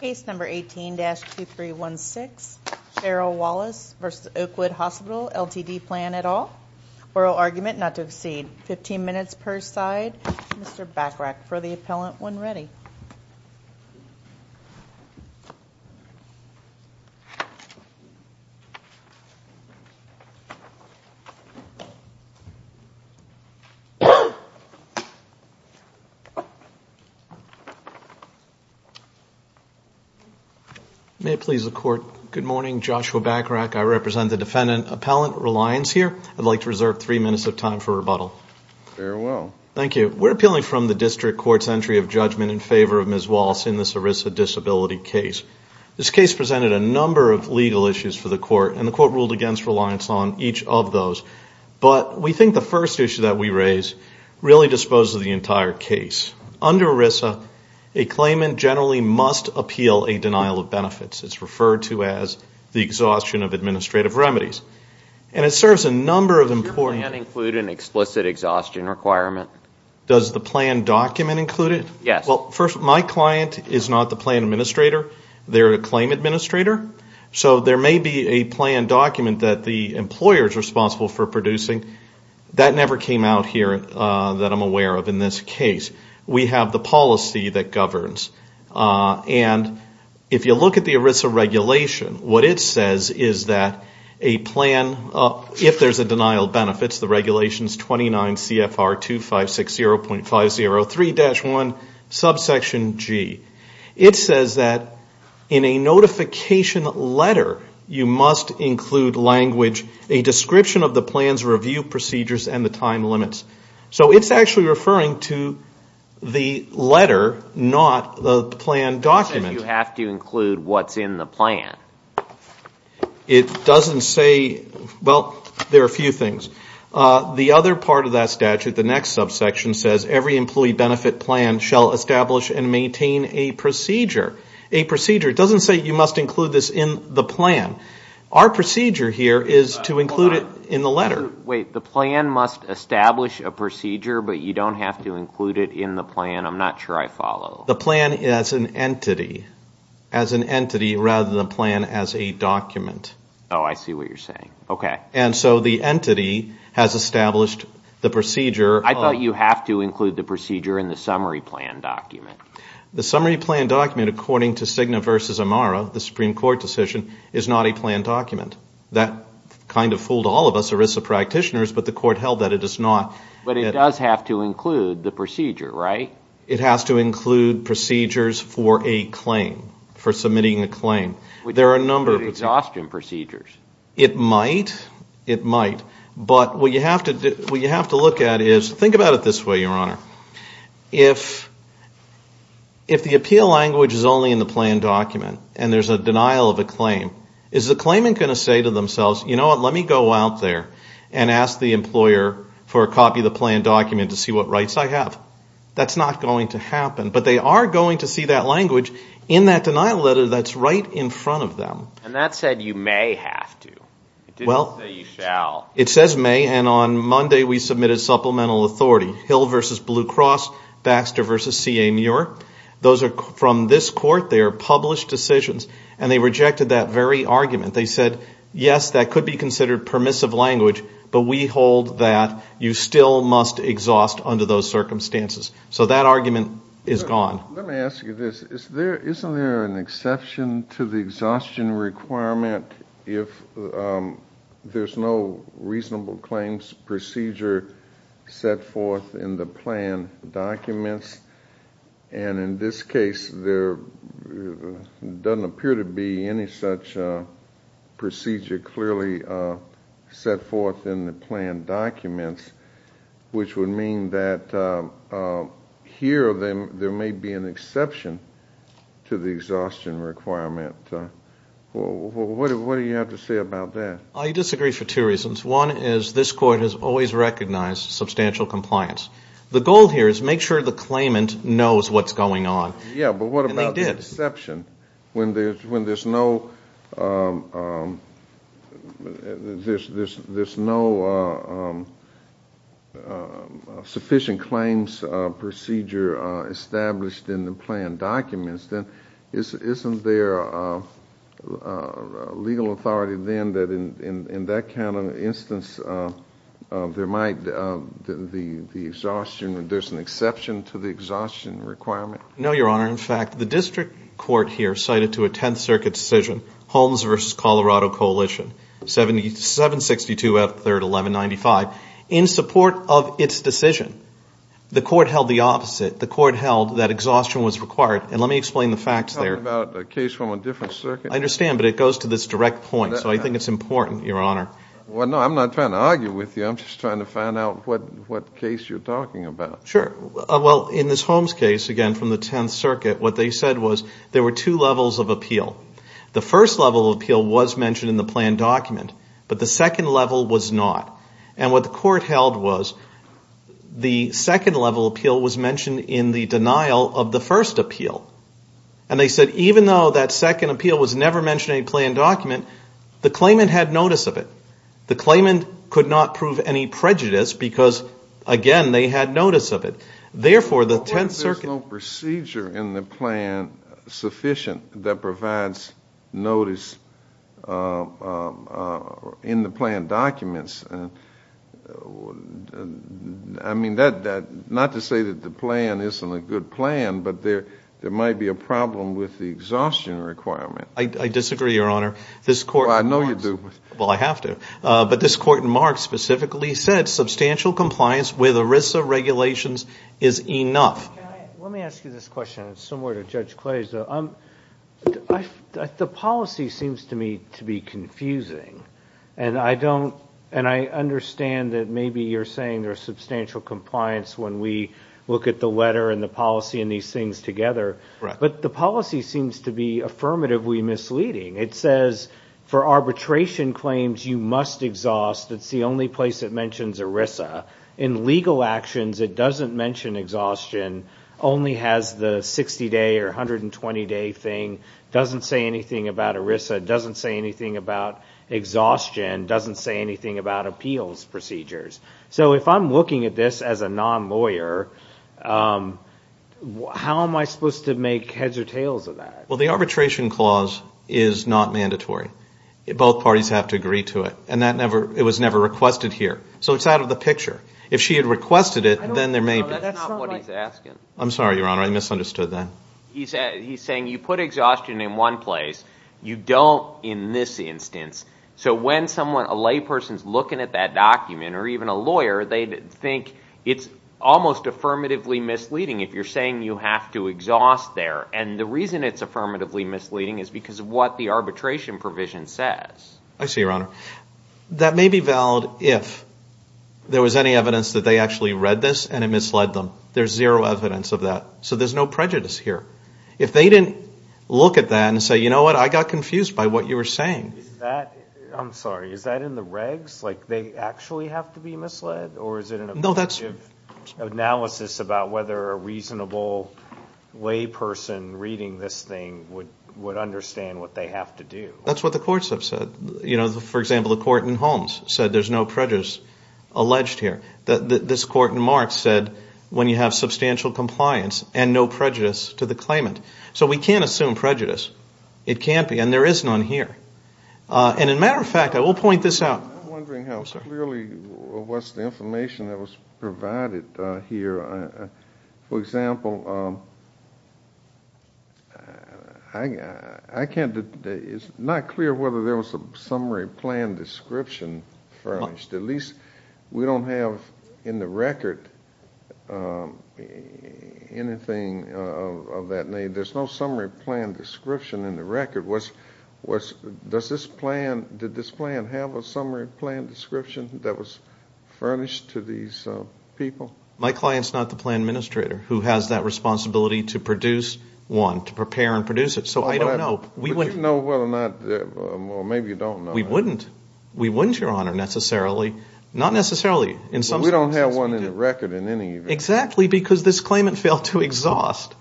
Case number 18-2316, Cheryl Wallace v. Oakwood Hospital LTD Plan et al. Oral argument not to exceed 15 minutes per side. Mr. Bachrach for the appellant when ready. May it please the court. Good morning, Joshua Bachrach. I represent the defendant appellant Reliance here. I'd like to reserve three minutes of time for rebuttal. Very well. Thank you. We're appealing from the district court's entry of judgment in favor of Ms. Wallace in this ERISA disability case. This case presented a number of legal issues for the court and the court ruled against reliance on each of those. But we think the first issue that we raise really disposes the entire case. Under ERISA, a claimant generally must appeal a denial of benefits. It's referred to as the exhaustion of administrative remedies. And it serves a number of important... Does your plan include an explicit exhaustion requirement? Does the plan document include it? Yes. Well, first, my client is not the plan administrator. They're a claim administrator. So there may be a plan document that the employer is responsible for producing. That never came out here that I'm aware of in this case. We have the policy that governs. And if you look at the ERISA regulation, what it says is that a plan, if there's a denial of benefits, the regulation is 29 CFR 2560.503-1, subsection G. It says that in a notification letter, you must include language, a description of the plan's review procedures and the time limits. So it's actually referring to the letter, not the plan document. It doesn't say you have to include what's in the plan. It doesn't say... Well, there are a few things. The other part of that statute, the next subsection, says every employee benefit plan shall establish and maintain a procedure. A procedure. It doesn't say you must include this in the plan. Our procedure here is to include it in the letter. Wait, the plan must establish a procedure, but you don't have to include it in the plan? I'm not sure I follow. The plan as an entity. As an entity rather than a plan as a document. Oh, I see what you're saying. Okay. And so the entity has established the procedure. I thought you have to include the procedure in the summary plan document. The summary plan document, according to Cigna v. Amara, the Supreme Court decision, is not a plan document. That kind of fooled all of us ERISA practitioners, but the Court held that it is not. But it does have to include the procedure, right? It has to include procedures for a claim, for submitting a claim. There are a number of... Exhaustion procedures. It might. It might. But what you have to look at is, think about it this way, Your Honor. If the appeal language is only in the plan document and there's a denial of a claim, is the claimant going to say to themselves, you know what, let me go out there and ask the employer for a copy of the plan document to see what rights I have? That's not going to happen. But they are going to see that language in that denial letter that's right in front of them. And that said you may have to. Well... It didn't say you shall. It says may, and on Monday we submitted supplemental authority. Hill v. Blue Cross, Baxter v. C.A. Muir. Those are from this Court. They are published decisions, and they rejected that very argument. They said, yes, that could be considered permissive language, but we hold that you still must exhaust under those circumstances. So that argument is gone. Let me ask you this. Isn't there an exception to the exhaustion requirement if there's no reasonable claims procedure set forth in the plan documents? And in this case there doesn't appear to be any such procedure clearly set forth in the plan documents, which would mean that here there may be an exception to the exhaustion requirement. What do you have to say about that? I disagree for two reasons. One is this Court has always recognized substantial compliance. The goal here is make sure the claimant knows what's going on. Yeah, but what about the exception? And they did. When there's no sufficient claims procedure established in the plan documents, isn't there legal authority then that in that kind of instance there might be the exhaustion, and there's an exception to the exhaustion requirement? No, Your Honor. In fact, the district court here cited to a Tenth Circuit decision, Holmes v. Colorado Coalition, 762 F. 3rd 1195. In support of its decision, the Court held the opposite. The Court held that exhaustion was required, and let me explain the facts there. Are you talking about a case from a different circuit? I understand, but it goes to this direct point, so I think it's important, Your Honor. Well, no, I'm not trying to argue with you. I'm just trying to find out what case you're talking about. Sure. Well, in this Holmes case, again from the Tenth Circuit, what they said was there were two levels of appeal. The first level of appeal was mentioned in the plan document, but the second level was not. And what the Court held was the second level of appeal was mentioned in the denial of the first appeal. And they said even though that second appeal was never mentioned in the plan document, the claimant had notice of it. The claimant could not prove any prejudice because, again, they had notice of it. Therefore, the Tenth Circuit ---- in the plan sufficient that provides notice in the plan documents. I mean, not to say that the plan isn't a good plan, but there might be a problem with the exhaustion requirement. I disagree, Your Honor. Well, I know you do. Well, I have to. But this Court in Marx specifically said substantial compliance with ERISA regulations is enough. Let me ask you this question. It's similar to Judge Clay's. The policy seems to me to be confusing, and I don't ---- and I understand that maybe you're saying there's substantial compliance when we look at the letter and the policy and these things together. Right. But the policy seems to be affirmatively misleading. It says for arbitration claims, you must exhaust. It's the only place it mentions ERISA. In legal actions, it doesn't mention exhaustion, only has the 60-day or 120-day thing, doesn't say anything about ERISA, doesn't say anything about exhaustion, doesn't say anything about appeals procedures. So if I'm looking at this as a non-lawyer, how am I supposed to make heads or tails of that? Well, the arbitration clause is not mandatory. Both parties have to agree to it. And it was never requested here. So it's out of the picture. If she had requested it, then there may be ---- No, that's not what he's asking. I'm sorry, Your Honor. I misunderstood that. He's saying you put exhaustion in one place. You don't in this instance. So when someone, a layperson is looking at that document or even a lawyer, they think it's almost affirmatively misleading if you're saying you have to exhaust there. And the reason it's affirmatively misleading is because of what the arbitration provision says. I see, Your Honor. That may be valid if there was any evidence that they actually read this and it misled them. There's zero evidence of that. So there's no prejudice here. If they didn't look at that and say, you know what, I got confused by what you were saying. I'm sorry. Is that in the regs? Like they actually have to be misled? Or is it an objective analysis about whether a reasonable layperson reading this thing would understand what they have to do? That's what the courts have said. For example, the court in Holmes said there's no prejudice alleged here. This court in Marks said when you have substantial compliance and no prejudice to the claimant. So we can't assume prejudice. It can't be. And there is none here. And a matter of fact, I will point this out. I'm wondering how clearly was the information that was provided here. For example, it's not clear whether there was a summary plan description furnished. At least we don't have in the record anything of that name. There's no summary plan description in the record. Did this plan have a summary plan description that was furnished to these people? My client's not the plan administrator who has that responsibility to produce one, to prepare and produce it. So I don't know. Would you know whether or not, well, maybe you don't know. We wouldn't. We wouldn't, Your Honor, necessarily. Not necessarily. We don't have one in the record in any event. Exactly because this claimant failed to exhaust.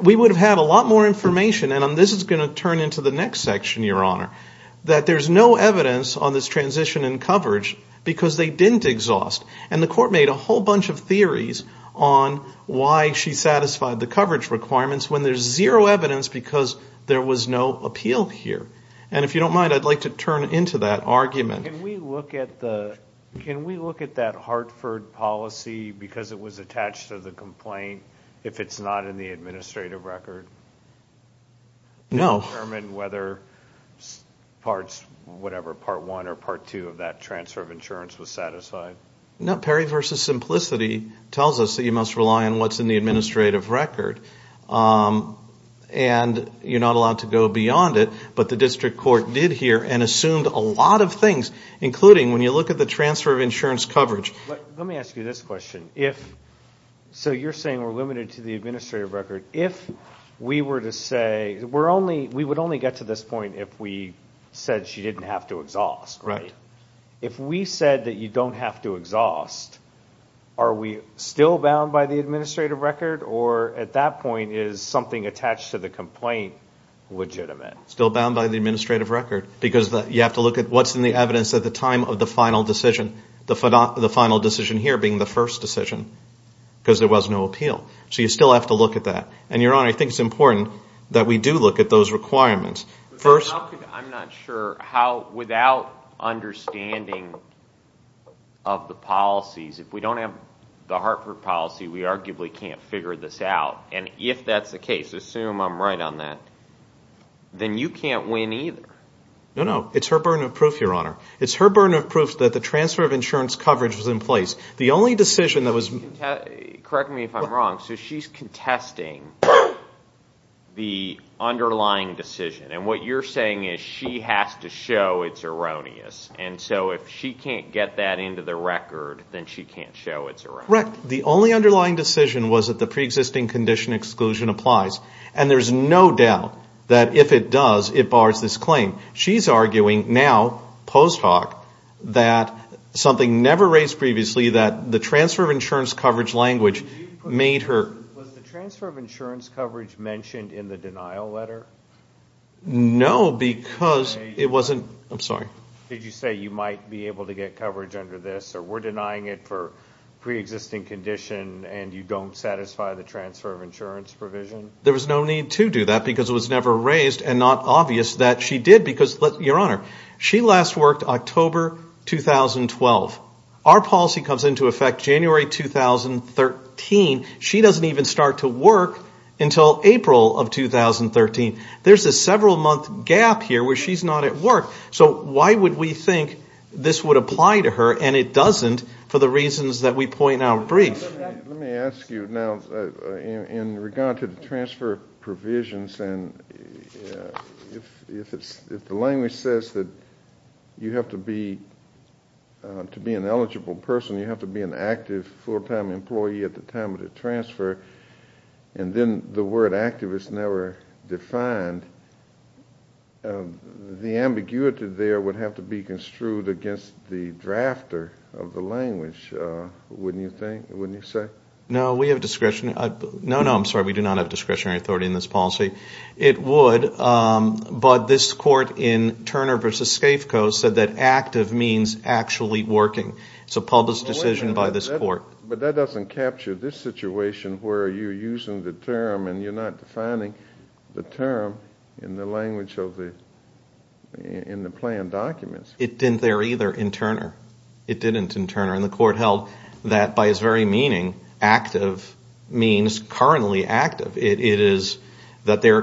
We would have had a lot more information, and this is going to turn into the next section, Your Honor, that there's no evidence on this transition in coverage because they didn't exhaust. And the court made a whole bunch of theories on why she satisfied the coverage requirements when there's zero evidence because there was no appeal here. And if you don't mind, I'd like to turn into that argument. Can we look at that Hartford policy because it was attached to the complaint if it's not in the administrative record? No. Can we determine whether parts, whatever, part one or part two of that transfer of insurance was satisfied? No. Perry v. Simplicity tells us that you must rely on what's in the administrative record. And you're not allowed to go beyond it, but the district court did here and assumed a lot of things, including when you look at the transfer of insurance coverage. Let me ask you this question. So you're saying we're limited to the administrative record. If we were to say we're only, we would only get to this point if we said she didn't have to exhaust, right? If we said that you don't have to exhaust, are we still bound by the administrative record or at that point is something attached to the complaint legitimate? Still bound by the administrative record because you have to look at what's in the evidence at the time of the final decision, the final decision here being the first decision because there was no appeal. So you still have to look at that. And, Your Honor, I think it's important that we do look at those requirements. I'm not sure how, without understanding of the policies, if we don't have the Hartford policy, we arguably can't figure this out. And if that's the case, assume I'm right on that, then you can't win either. No, no, it's her burden of proof, Your Honor. It's her burden of proof that the transfer of insurance coverage was in place. Correct me if I'm wrong. So she's contesting the underlying decision. And what you're saying is she has to show it's erroneous. And so if she can't get that into the record, then she can't show it's erroneous. Correct. The only underlying decision was that the preexisting condition exclusion applies. And there's no doubt that if it does, it bars this claim. She's arguing now, post hoc, that something never raised previously, that the transfer of insurance coverage language made her. Was the transfer of insurance coverage mentioned in the denial letter? No, because it wasn't. I'm sorry. Did you say you might be able to get coverage under this, or we're denying it for preexisting condition, and you don't satisfy the transfer of insurance provision? There was no need to do that because it was never raised and not obvious that she did because, Your Honor, she last worked October 2012. Our policy comes into effect January 2013. She doesn't even start to work until April of 2013. There's a several-month gap here where she's not at work. So why would we think this would apply to her, and it doesn't for the reasons that we point out brief? Let me ask you now in regard to the transfer provisions, and if the language says that you have to be an eligible person, you have to be an active full-time employee at the time of the transfer, and then the word activist never defined, the ambiguity there would have to be construed against the drafter of the language, wouldn't you think, wouldn't you say? No, we have discretion. No, no, I'm sorry. We do not have discretionary authority in this policy. It would, but this court in Turner v. Skafko said that active means actually working. It's a public decision by this court. But that doesn't capture this situation where you're using the term and you're not defining the term in the language of the, in the plan documents. It didn't there either in Turner. It didn't in Turner, and the court held that by its very meaning, active means currently active. It is that they're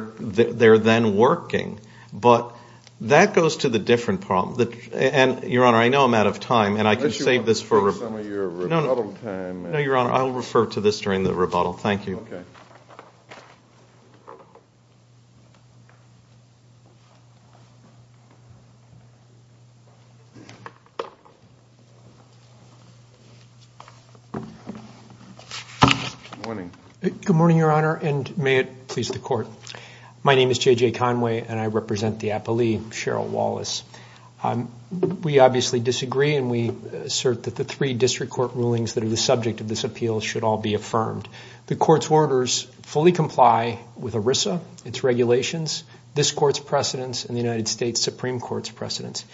then working. But that goes to the different problem. And, Your Honor, I know I'm out of time, and I can save this for rebuttal. Unless you want to take some of your rebuttal time. No, Your Honor, I'll refer to this during the rebuttal. Thank you. Okay. Good morning. Good morning, Your Honor, and may it please the court. My name is J.J. Conway, and I represent the appellee, Cheryl Wallace. We obviously disagree, and we assert that the three district court rulings that are the subject of this appeal should all be affirmed. The court's orders fully comply with ERISA, its regulations, this court's precedents, and the United States Supreme Court's precedents.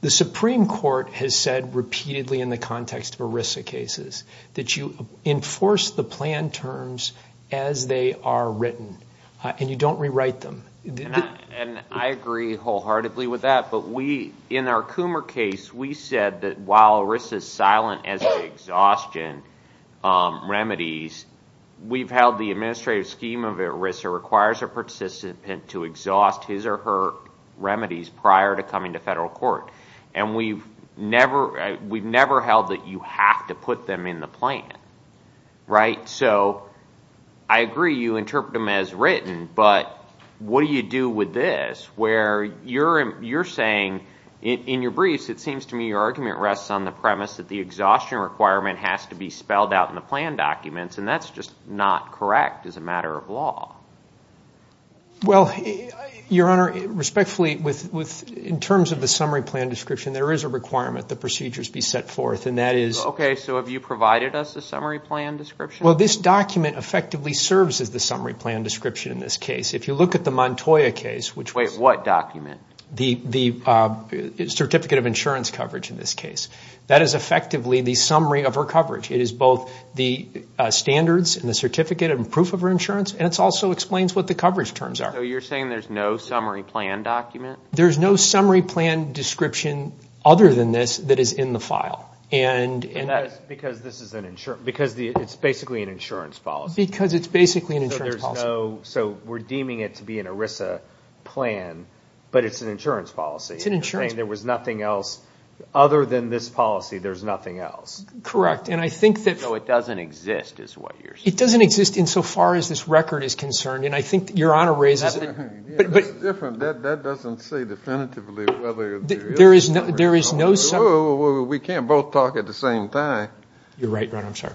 The Supreme Court has said repeatedly in the context of ERISA cases that you enforce the plan terms as they are written, and you don't rewrite them. And I agree wholeheartedly with that, but in our Coomer case, we said that while ERISA is silent as to exhaustion remedies, we've held the administrative scheme of ERISA requires a participant to exhaust his or her remedies prior to coming to federal court. And we've never held that you have to put them in the plan, right? So I agree you interpret them as written, but what do you do with this, where you're saying in your briefs, it seems to me your argument rests on the premise that the exhaustion requirement has to be spelled out in the plan documents, Well, Your Honor, respectfully, in terms of the summary plan description, there is a requirement that procedures be set forth, and that is Okay, so have you provided us a summary plan description? Well, this document effectively serves as the summary plan description in this case. If you look at the Montoya case, which was Wait, what document? The certificate of insurance coverage in this case. That is effectively the summary of her coverage. It is both the standards and the certificate and proof of her insurance, and it also explains what the coverage terms are. So you're saying there's no summary plan document? There's no summary plan description other than this that is in the file. Because it's basically an insurance policy. Because it's basically an insurance policy. So we're deeming it to be an ERISA plan, but it's an insurance policy. It's an insurance policy. There was nothing else other than this policy, there's nothing else. Correct, and I think that So it doesn't exist is what you're saying. It doesn't exist insofar as this record is concerned, and I think Your Honor raises it. That's different. That doesn't say definitively whether there is a summary plan. There is no summary. We can't both talk at the same time. You're right, Your Honor. I'm sorry.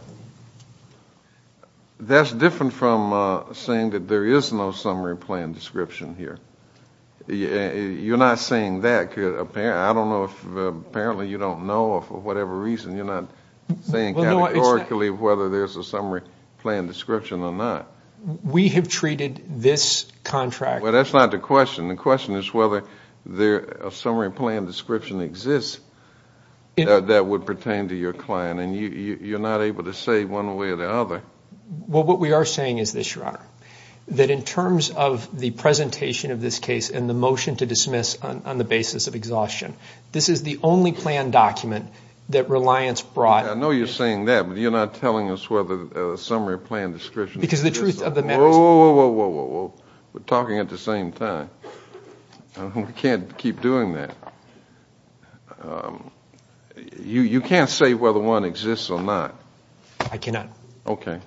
That's different from saying that there is no summary plan description here. You're not saying that. I don't know if apparently you don't know or for whatever reason you're not saying categorically whether there's a summary plan description or not. We have treated this contract Well, that's not the question. The question is whether a summary plan description exists that would pertain to your client, and you're not able to say one way or the other. Well, what we are saying is this, Your Honor, that in terms of the presentation of this case and the motion to dismiss on the basis of exhaustion, this is the only plan document that Reliance brought I know you're saying that, but you're not telling us whether a summary plan description exists or not. Because the truth of the matter is Whoa, whoa, whoa, whoa, whoa. We're talking at the same time. We can't keep doing that. You can't say whether one exists or not. I cannot. Okay.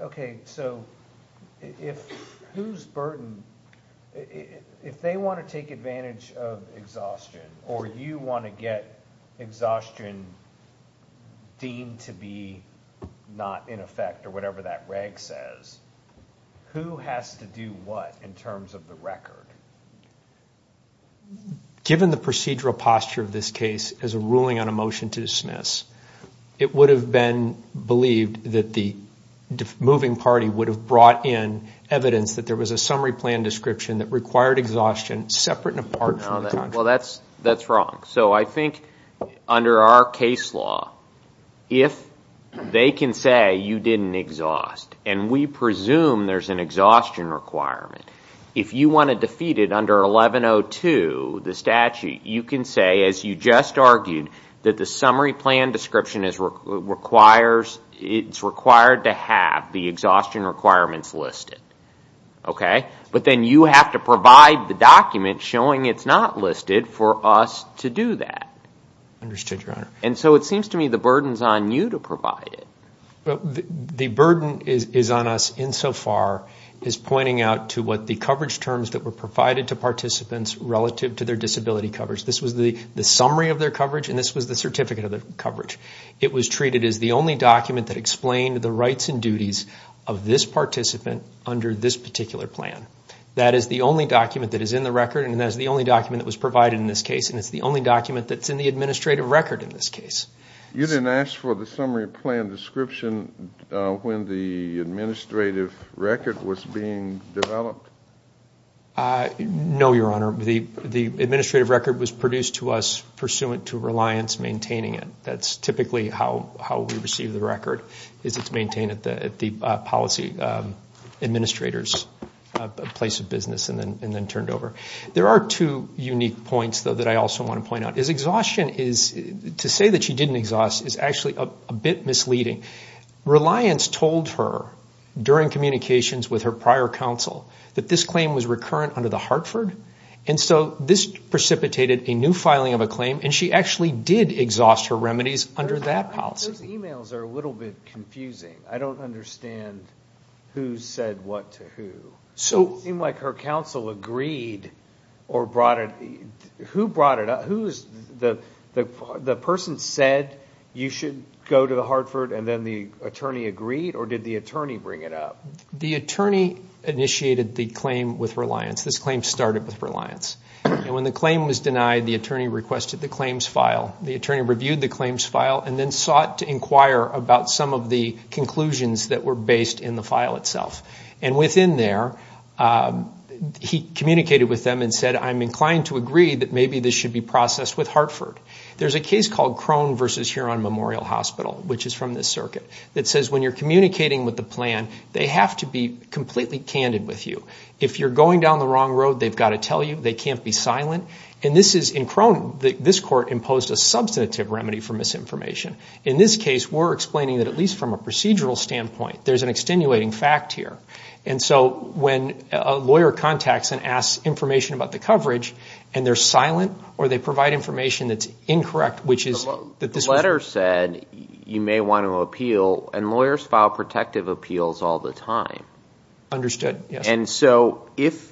Okay, so if who's burdened? If they want to take advantage of exhaustion, or you want to get exhaustion deemed to be not in effect or whatever that reg says, who has to do what in terms of the record? Given the procedural posture of this case as a ruling on a motion to dismiss, it would have been believed that the moving party would have brought in evidence that there was a summary plan description that required exhaustion separate and apart from the contract. Well, that's wrong. So I think under our case law, if they can say you didn't exhaust, and we presume there's an exhaustion requirement, if you want to defeat it under 1102, the statute, you can say, as you just argued, that the summary plan description is required to have the exhaustion requirements listed. Okay? But then you have to provide the document showing it's not listed for us to do that. Understood, Your Honor. And so it seems to me the burden's on you to provide it. The burden is on us insofar as pointing out to what the coverage terms that were provided to participants relative to their disability coverage. This was the summary of their coverage, and this was the certificate of their coverage. It was treated as the only document that explained the rights and duties of this participant under this particular plan. That is the only document that is in the record, and that is the only document that was provided in this case, and it's the only document that's in the administrative record in this case. You didn't ask for the summary plan description when the administrative record was being developed? No, Your Honor. The administrative record was produced to us pursuant to Reliance maintaining it. That's typically how we receive the record, is it's maintained at the policy administrator's place of business and then turned over. There are two unique points, though, that I also want to point out. Exhaustion is, to say that she didn't exhaust is actually a bit misleading. Reliance told her, during communications with her prior counsel, that this claim was recurrent under the Hartford, and so this precipitated a new filing of a claim, and she actually did exhaust her remedies under that policy. Those emails are a little bit confusing. I don't understand who said what to who. It seemed like her counsel agreed or brought it. Who brought it up? The person said you should go to the Hartford, and then the attorney agreed, or did the attorney bring it up? The attorney initiated the claim with Reliance. This claim started with Reliance. When the claim was denied, the attorney requested the claims file. The attorney reviewed the claims file and then sought to inquire about some of the conclusions that were based in the file itself. Within there, he communicated with them and said, I'm inclined to agree that maybe this should be processed with Hartford. There's a case called Crone v. Huron Memorial Hospital, which is from this circuit, that says when you're communicating with the plan, they have to be completely candid with you. If you're going down the wrong road, they've got to tell you. They can't be silent. In Crone, this court imposed a substantive remedy for misinformation. In this case, we're explaining that at least from a procedural standpoint, there's an extenuating fact here. And so when a lawyer contacts and asks information about the coverage, and they're silent or they provide information that's incorrect, which is that this was. The letter said you may want to appeal, and lawyers file protective appeals all the time. Understood, yes. And so if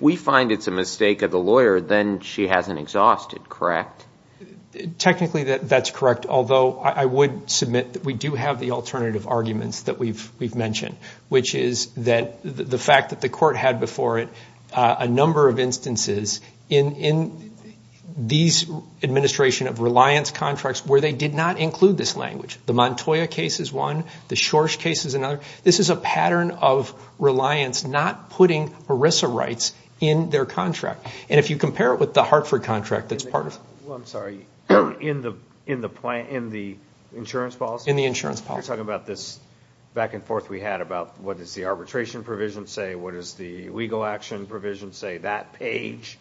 we find it's a mistake of the lawyer, then she hasn't exhausted, correct? Technically, that's correct, although I would submit that we do have the alternative arguments that we've mentioned, which is that the fact that the court had before it a number of instances in these administration of reliance contracts where they did not include this language. The Montoya case is one. The Schorsch case is another. This is a pattern of reliance not putting ERISA rights in their contract. And if you compare it with the Hartford contract that's part of. Well, I'm sorry. In the insurance policy? In the insurance policy. You're talking about this back and forth we had about what does the arbitration provision say, what does the legal action provision say, that page.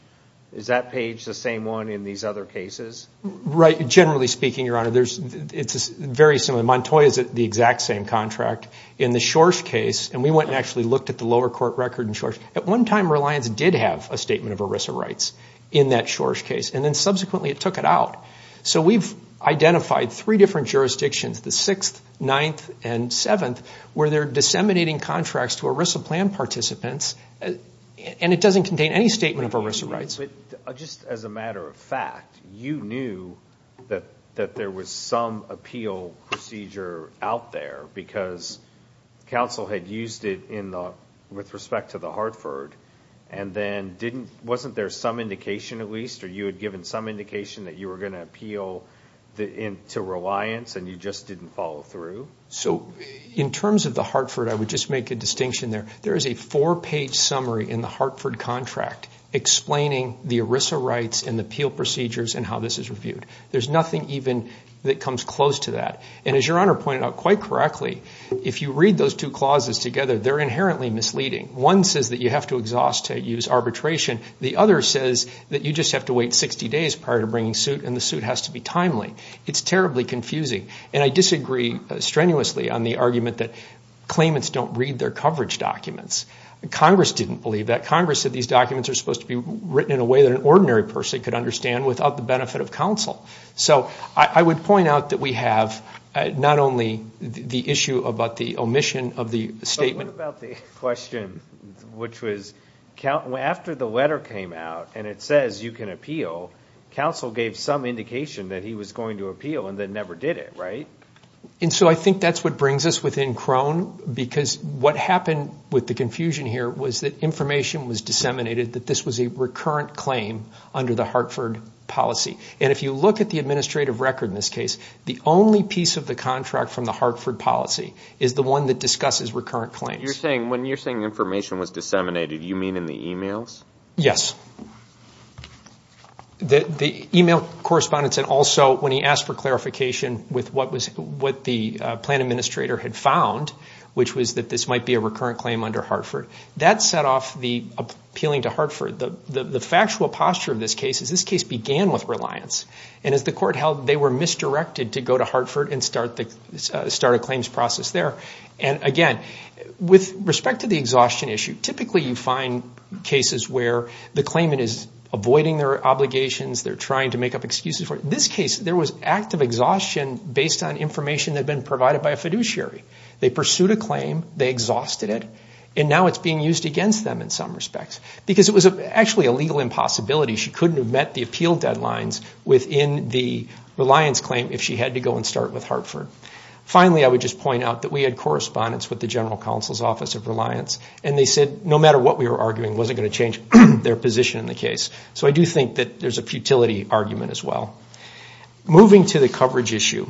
Is that page the same one in these other cases? Right. Generally speaking, Your Honor, it's very similar. Montoya is the exact same contract. In the Schorsch case, and we went and actually looked at the lower court record in Schorsch, at one time reliance did have a statement of ERISA rights in that Schorsch case. And then subsequently it took it out. So we've identified three different jurisdictions, the 6th, 9th, and 7th, where they're disseminating contracts to ERISA plan participants, and it doesn't contain any statement of ERISA rights. Just as a matter of fact, you knew that there was some appeal procedure out there because counsel had used it with respect to the Hartford, and then wasn't there some indication at least, or you had given some indication that you were going to appeal to reliance and you just didn't follow through? So in terms of the Hartford, I would just make a distinction there. There is a four-page summary in the Hartford contract explaining the ERISA rights and the appeal procedures and how this is reviewed. There's nothing even that comes close to that. And as Your Honor pointed out quite correctly, if you read those two clauses together, they're inherently misleading. One says that you have to exhaust to use arbitration. The other says that you just have to wait 60 days prior to bringing suit, and the suit has to be timely. It's terribly confusing. And I disagree strenuously on the argument that claimants don't read their coverage documents. Congress didn't believe that. Congress said these documents are supposed to be written in a way that an ordinary person could understand without the benefit of counsel. So I would point out that we have not only the issue about the omission of the statement. What about the question which was after the letter came out and it says you can appeal, counsel gave some indication that he was going to appeal and then never did it, right? And so I think that's what brings us within Crone, because what happened with the confusion here was that information was disseminated that this was a recurrent claim under the Hartford policy. And if you look at the administrative record in this case, the only piece of the contract from the Hartford policy is the one that discusses recurrent claims. When you're saying information was disseminated, do you mean in the e-mails? Yes. The e-mail correspondence and also when he asked for clarification with what the plan administrator had found, which was that this might be a recurrent claim under Hartford, that set off the appealing to Hartford. The factual posture of this case is this case began with reliance. And as the court held, they were misdirected to go to Hartford and start a claims process there. And again, with respect to the exhaustion issue, typically you find cases where the claimant is avoiding their obligations, they're trying to make up excuses for it. In this case, there was active exhaustion based on information that had been provided by a fiduciary. They pursued a claim, they exhausted it, and now it's being used against them in some respects, because it was actually a legal impossibility. She couldn't have met the appeal deadlines within the reliance claim if she had to go and start with Hartford. Finally, I would just point out that we had correspondence with the General Counsel's Office of Reliance, and they said no matter what we were arguing, it wasn't going to change their position in the case. So I do think that there's a futility argument as well. Moving to the coverage issue,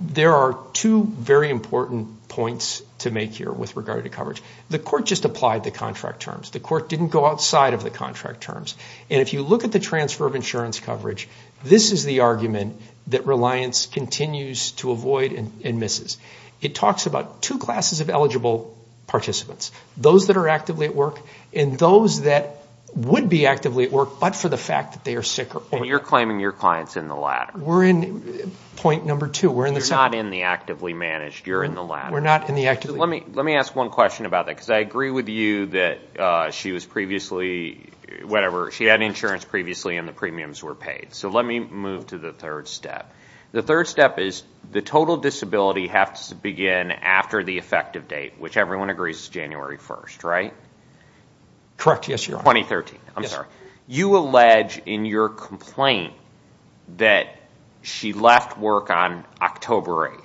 there are two very important points to make here with regard to coverage. The court just applied the contract terms. The court didn't go outside of the contract terms. And if you look at the transfer of insurance coverage, this is the argument that reliance continues to avoid and misses. It talks about two classes of eligible participants, those that are actively at work and those that would be actively at work but for the fact that they are sicker. And you're claiming your client's in the latter. We're in point number two. You're not in the actively managed. You're in the latter. We're not in the actively. Let me ask one question about that because I agree with you that she had insurance previously and the premiums were paid. So let me move to the third step. The third step is the total disability has to begin after the effective date, which everyone agrees is January 1st, right? Correct, yes, Your Honor. 2013. I'm sorry. You allege in your complaint that she left work on October 8th.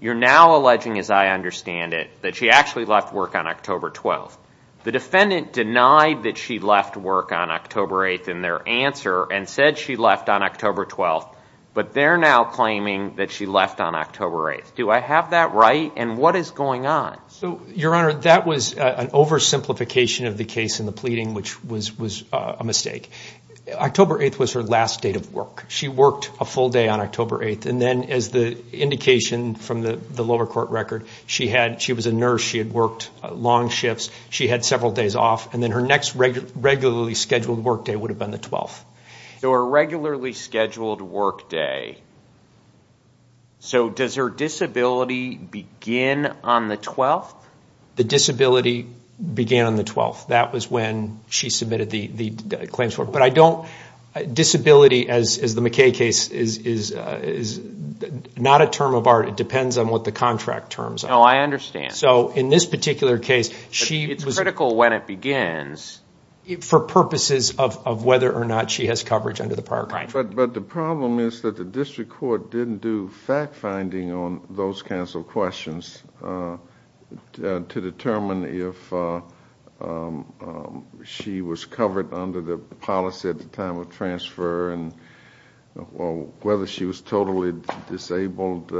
You're now alleging, as I understand it, that she actually left work on October 12th. The defendant denied that she left work on October 8th in their answer and said she left on October 12th. But they're now claiming that she left on October 8th. Do I have that right? And what is going on? Your Honor, that was an oversimplification of the case in the pleading, which was a mistake. October 8th was her last date of work. She worked a full day on October 8th. And then as the indication from the lower court record, she was a nurse. She had worked long shifts. She had several days off. And then her next regularly scheduled work day would have been the 12th. So her regularly scheduled work day. So does her disability begin on the 12th? The disability began on the 12th. That was when she submitted the claims. Disability, as the McKay case, is not a term of art. It depends on what the contract terms are. Oh, I understand. So in this particular case, she was- It's critical when it begins. For purposes of whether or not she has coverage under the park. But the problem is that the district court didn't do fact-finding on those kinds of questions to determine if she was covered under the policy at the time of transfer and whether she was totally disabled,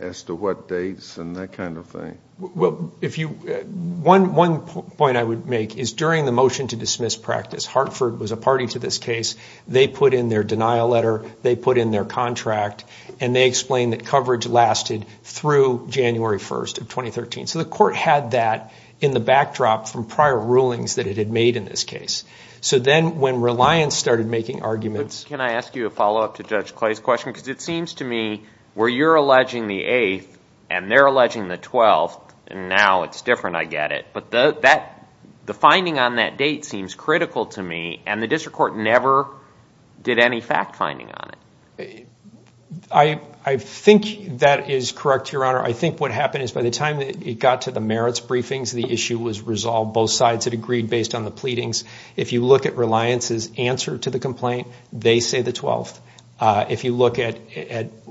as to what dates and that kind of thing. One point I would make is during the motion to dismiss practice, Hartford was a party to this case. They put in their denial letter. They put in their contract. And they explained that coverage lasted through January 1st of 2013. So the court had that in the backdrop from prior rulings that it had made in this case. So then when Reliance started making arguments- Can I ask you a follow-up to Judge Clay's question? Because it seems to me where you're alleging the 8th and they're alleging the 12th, and now it's different, I get it. But the finding on that date seems critical to me, and the district court never did any fact-finding on it. I think that is correct, Your Honor. I think what happened is by the time it got to the merits briefings, the issue was resolved. Both sides had agreed based on the pleadings. If you look at Reliance's answer to the complaint, they say the 12th. If you look at-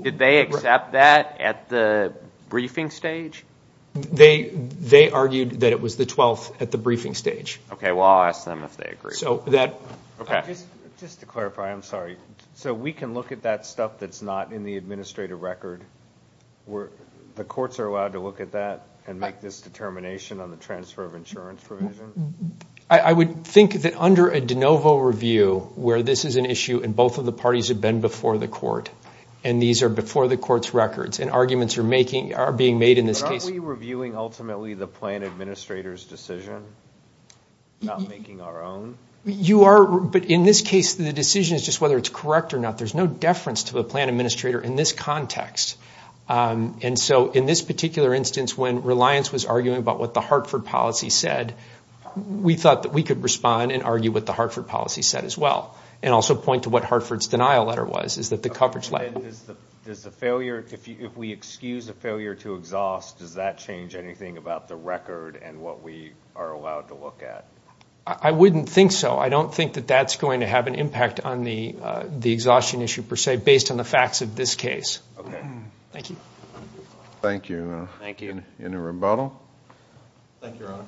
Did they accept that at the briefing stage? They argued that it was the 12th at the briefing stage. Okay, well, I'll ask them if they agree. Just to clarify, I'm sorry. So we can look at that stuff that's not in the administrative record? The courts are allowed to look at that and make this determination on the transfer of insurance provision? I would think that under a de novo review where this is an issue and both of the parties have been before the court, and these are before the court's records, and arguments are being made in this case- But aren't we reviewing ultimately the plan administrator's decision, not making our own? You are, but in this case, the decision is just whether it's correct or not. There's no deference to the plan administrator in this context. And so in this particular instance, when Reliance was arguing about what the Hartford policy said, we thought that we could respond and argue what the Hartford policy said as well, and also point to what Hartford's denial letter was, is that the coverage- If we excuse a failure to exhaust, does that change anything about the record and what we are allowed to look at? I wouldn't think so. I don't think that that's going to have an impact on the exhaustion issue per se based on the facts of this case. Okay. Thank you. Thank you. Any rebuttal? Thank you, Your Honor.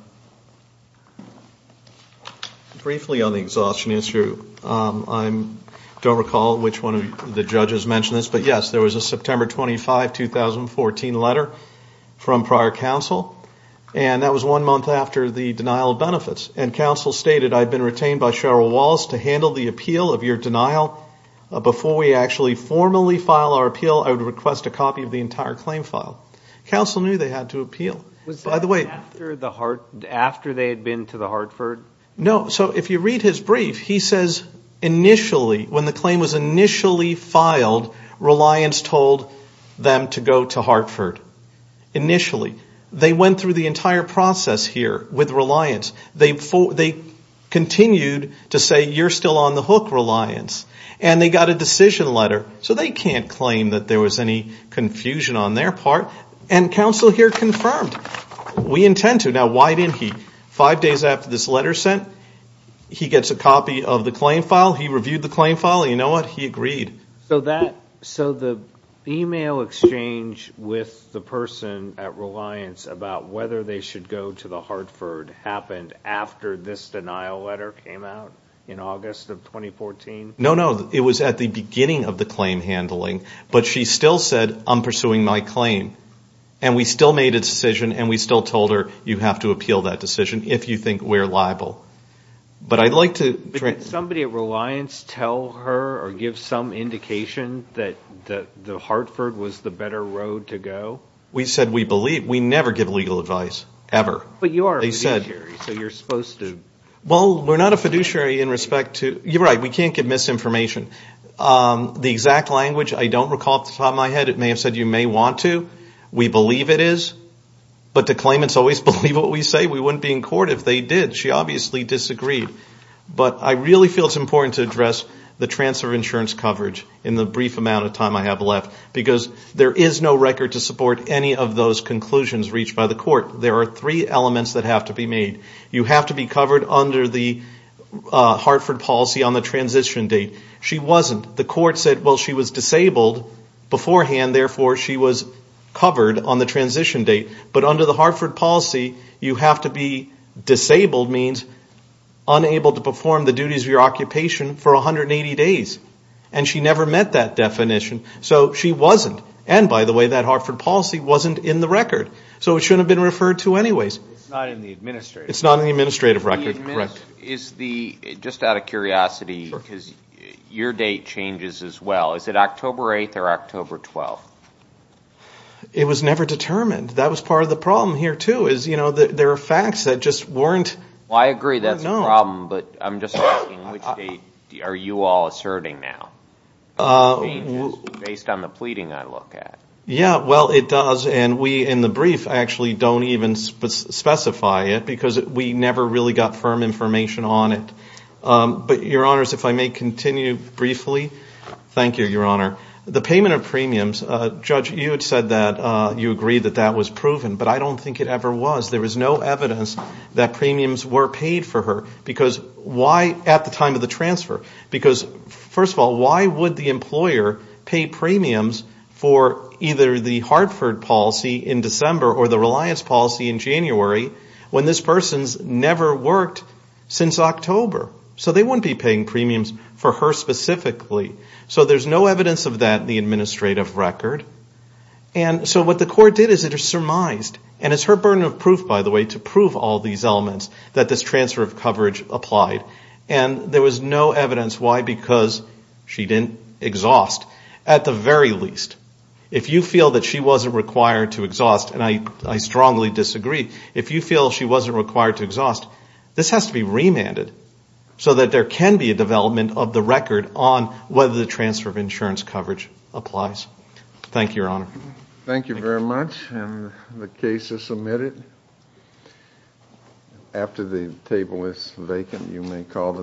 Briefly on the exhaustion issue, I don't recall which one of the judges mentioned this, but yes, there was a September 25, 2014 letter from prior counsel, and that was one month after the denial of benefits. And counsel stated, I've been retained by Cheryl Walls to handle the appeal of your denial. Before we actually formally file our appeal, I would request a copy of the entire claim file. Counsel knew they had to appeal. Was it after they had been to the Hartford? No. So if you read his brief, he says initially, when the claim was initially filed, Reliance told them to go to Hartford. Initially. They went through the entire process here with Reliance. They continued to say, you're still on the hook, Reliance. And they got a decision letter. So they can't claim that there was any confusion on their part. And counsel here confirmed, we intend to. Now, why didn't he? Five days after this letter was sent, he gets a copy of the claim file. He reviewed the claim file. You know what? He agreed. So the e-mail exchange with the person at Reliance about whether they should go to the Hartford happened after this denial letter came out in August of 2014? No, no. It was at the beginning of the claim handling. But she still said, I'm pursuing my claim. And we still made a decision, and we still told her you have to appeal that decision if you think we're liable. But I'd like to – Did somebody at Reliance tell her or give some indication that Hartford was the better road to go? We said we believe. We never give legal advice, ever. But you are a fiduciary, so you're supposed to. Well, we're not a fiduciary in respect to – you're right. We can't give misinformation. The exact language, I don't recall off the top of my head. It may have said you may want to. We believe it is. But the claimants always believe what we say. We wouldn't be in court if they did. She obviously disagreed. But I really feel it's important to address the transfer of insurance coverage in the brief amount of time I have left because there is no record to support any of those conclusions reached by the court. There are three elements that have to be made. You have to be covered under the Hartford policy on the transition date. She wasn't. The court said, well, she was disabled beforehand, therefore she was covered on the transition date. But under the Hartford policy, you have to be disabled, means unable to perform the duties of your occupation for 180 days. And she never met that definition, so she wasn't. And, by the way, that Hartford policy wasn't in the record. So it shouldn't have been referred to anyways. It's not in the administrative record. It's not in the administrative record, correct. Just out of curiosity, your date changes as well. Is it October 8th or October 12th? It was never determined. That was part of the problem here, too, is, you know, there are facts that just weren't. Well, I agree that's a problem, but I'm just asking which date are you all asserting now? Based on the pleading I look at. Yeah, well, it does. And we, in the brief, actually don't even specify it because we never really got firm information on it. But, Your Honors, if I may continue briefly. Thank you, Your Honor. The payment of premiums, Judge, you had said that you agreed that that was proven, but I don't think it ever was. There was no evidence that premiums were paid for her. Because why at the time of the transfer? Because, first of all, why would the employer pay premiums for either the Hartford policy in December or the Reliance policy in January when this person's never worked since October? So they wouldn't be paying premiums for her specifically. So there's no evidence of that in the administrative record. And so what the court did is it surmised, and it's her burden of proof, by the way, to prove all these elements that this transfer of coverage applied. And there was no evidence. Why? Because she didn't exhaust, at the very least. If you feel that she wasn't required to exhaust, and I strongly disagree, if you feel she wasn't required to exhaust, this has to be remanded so that there can be a development of the record on whether the transfer of insurance coverage applies. Thank you, Your Honor. Thank you very much. And the case is submitted. After the table is vacant, you may call the next hearing.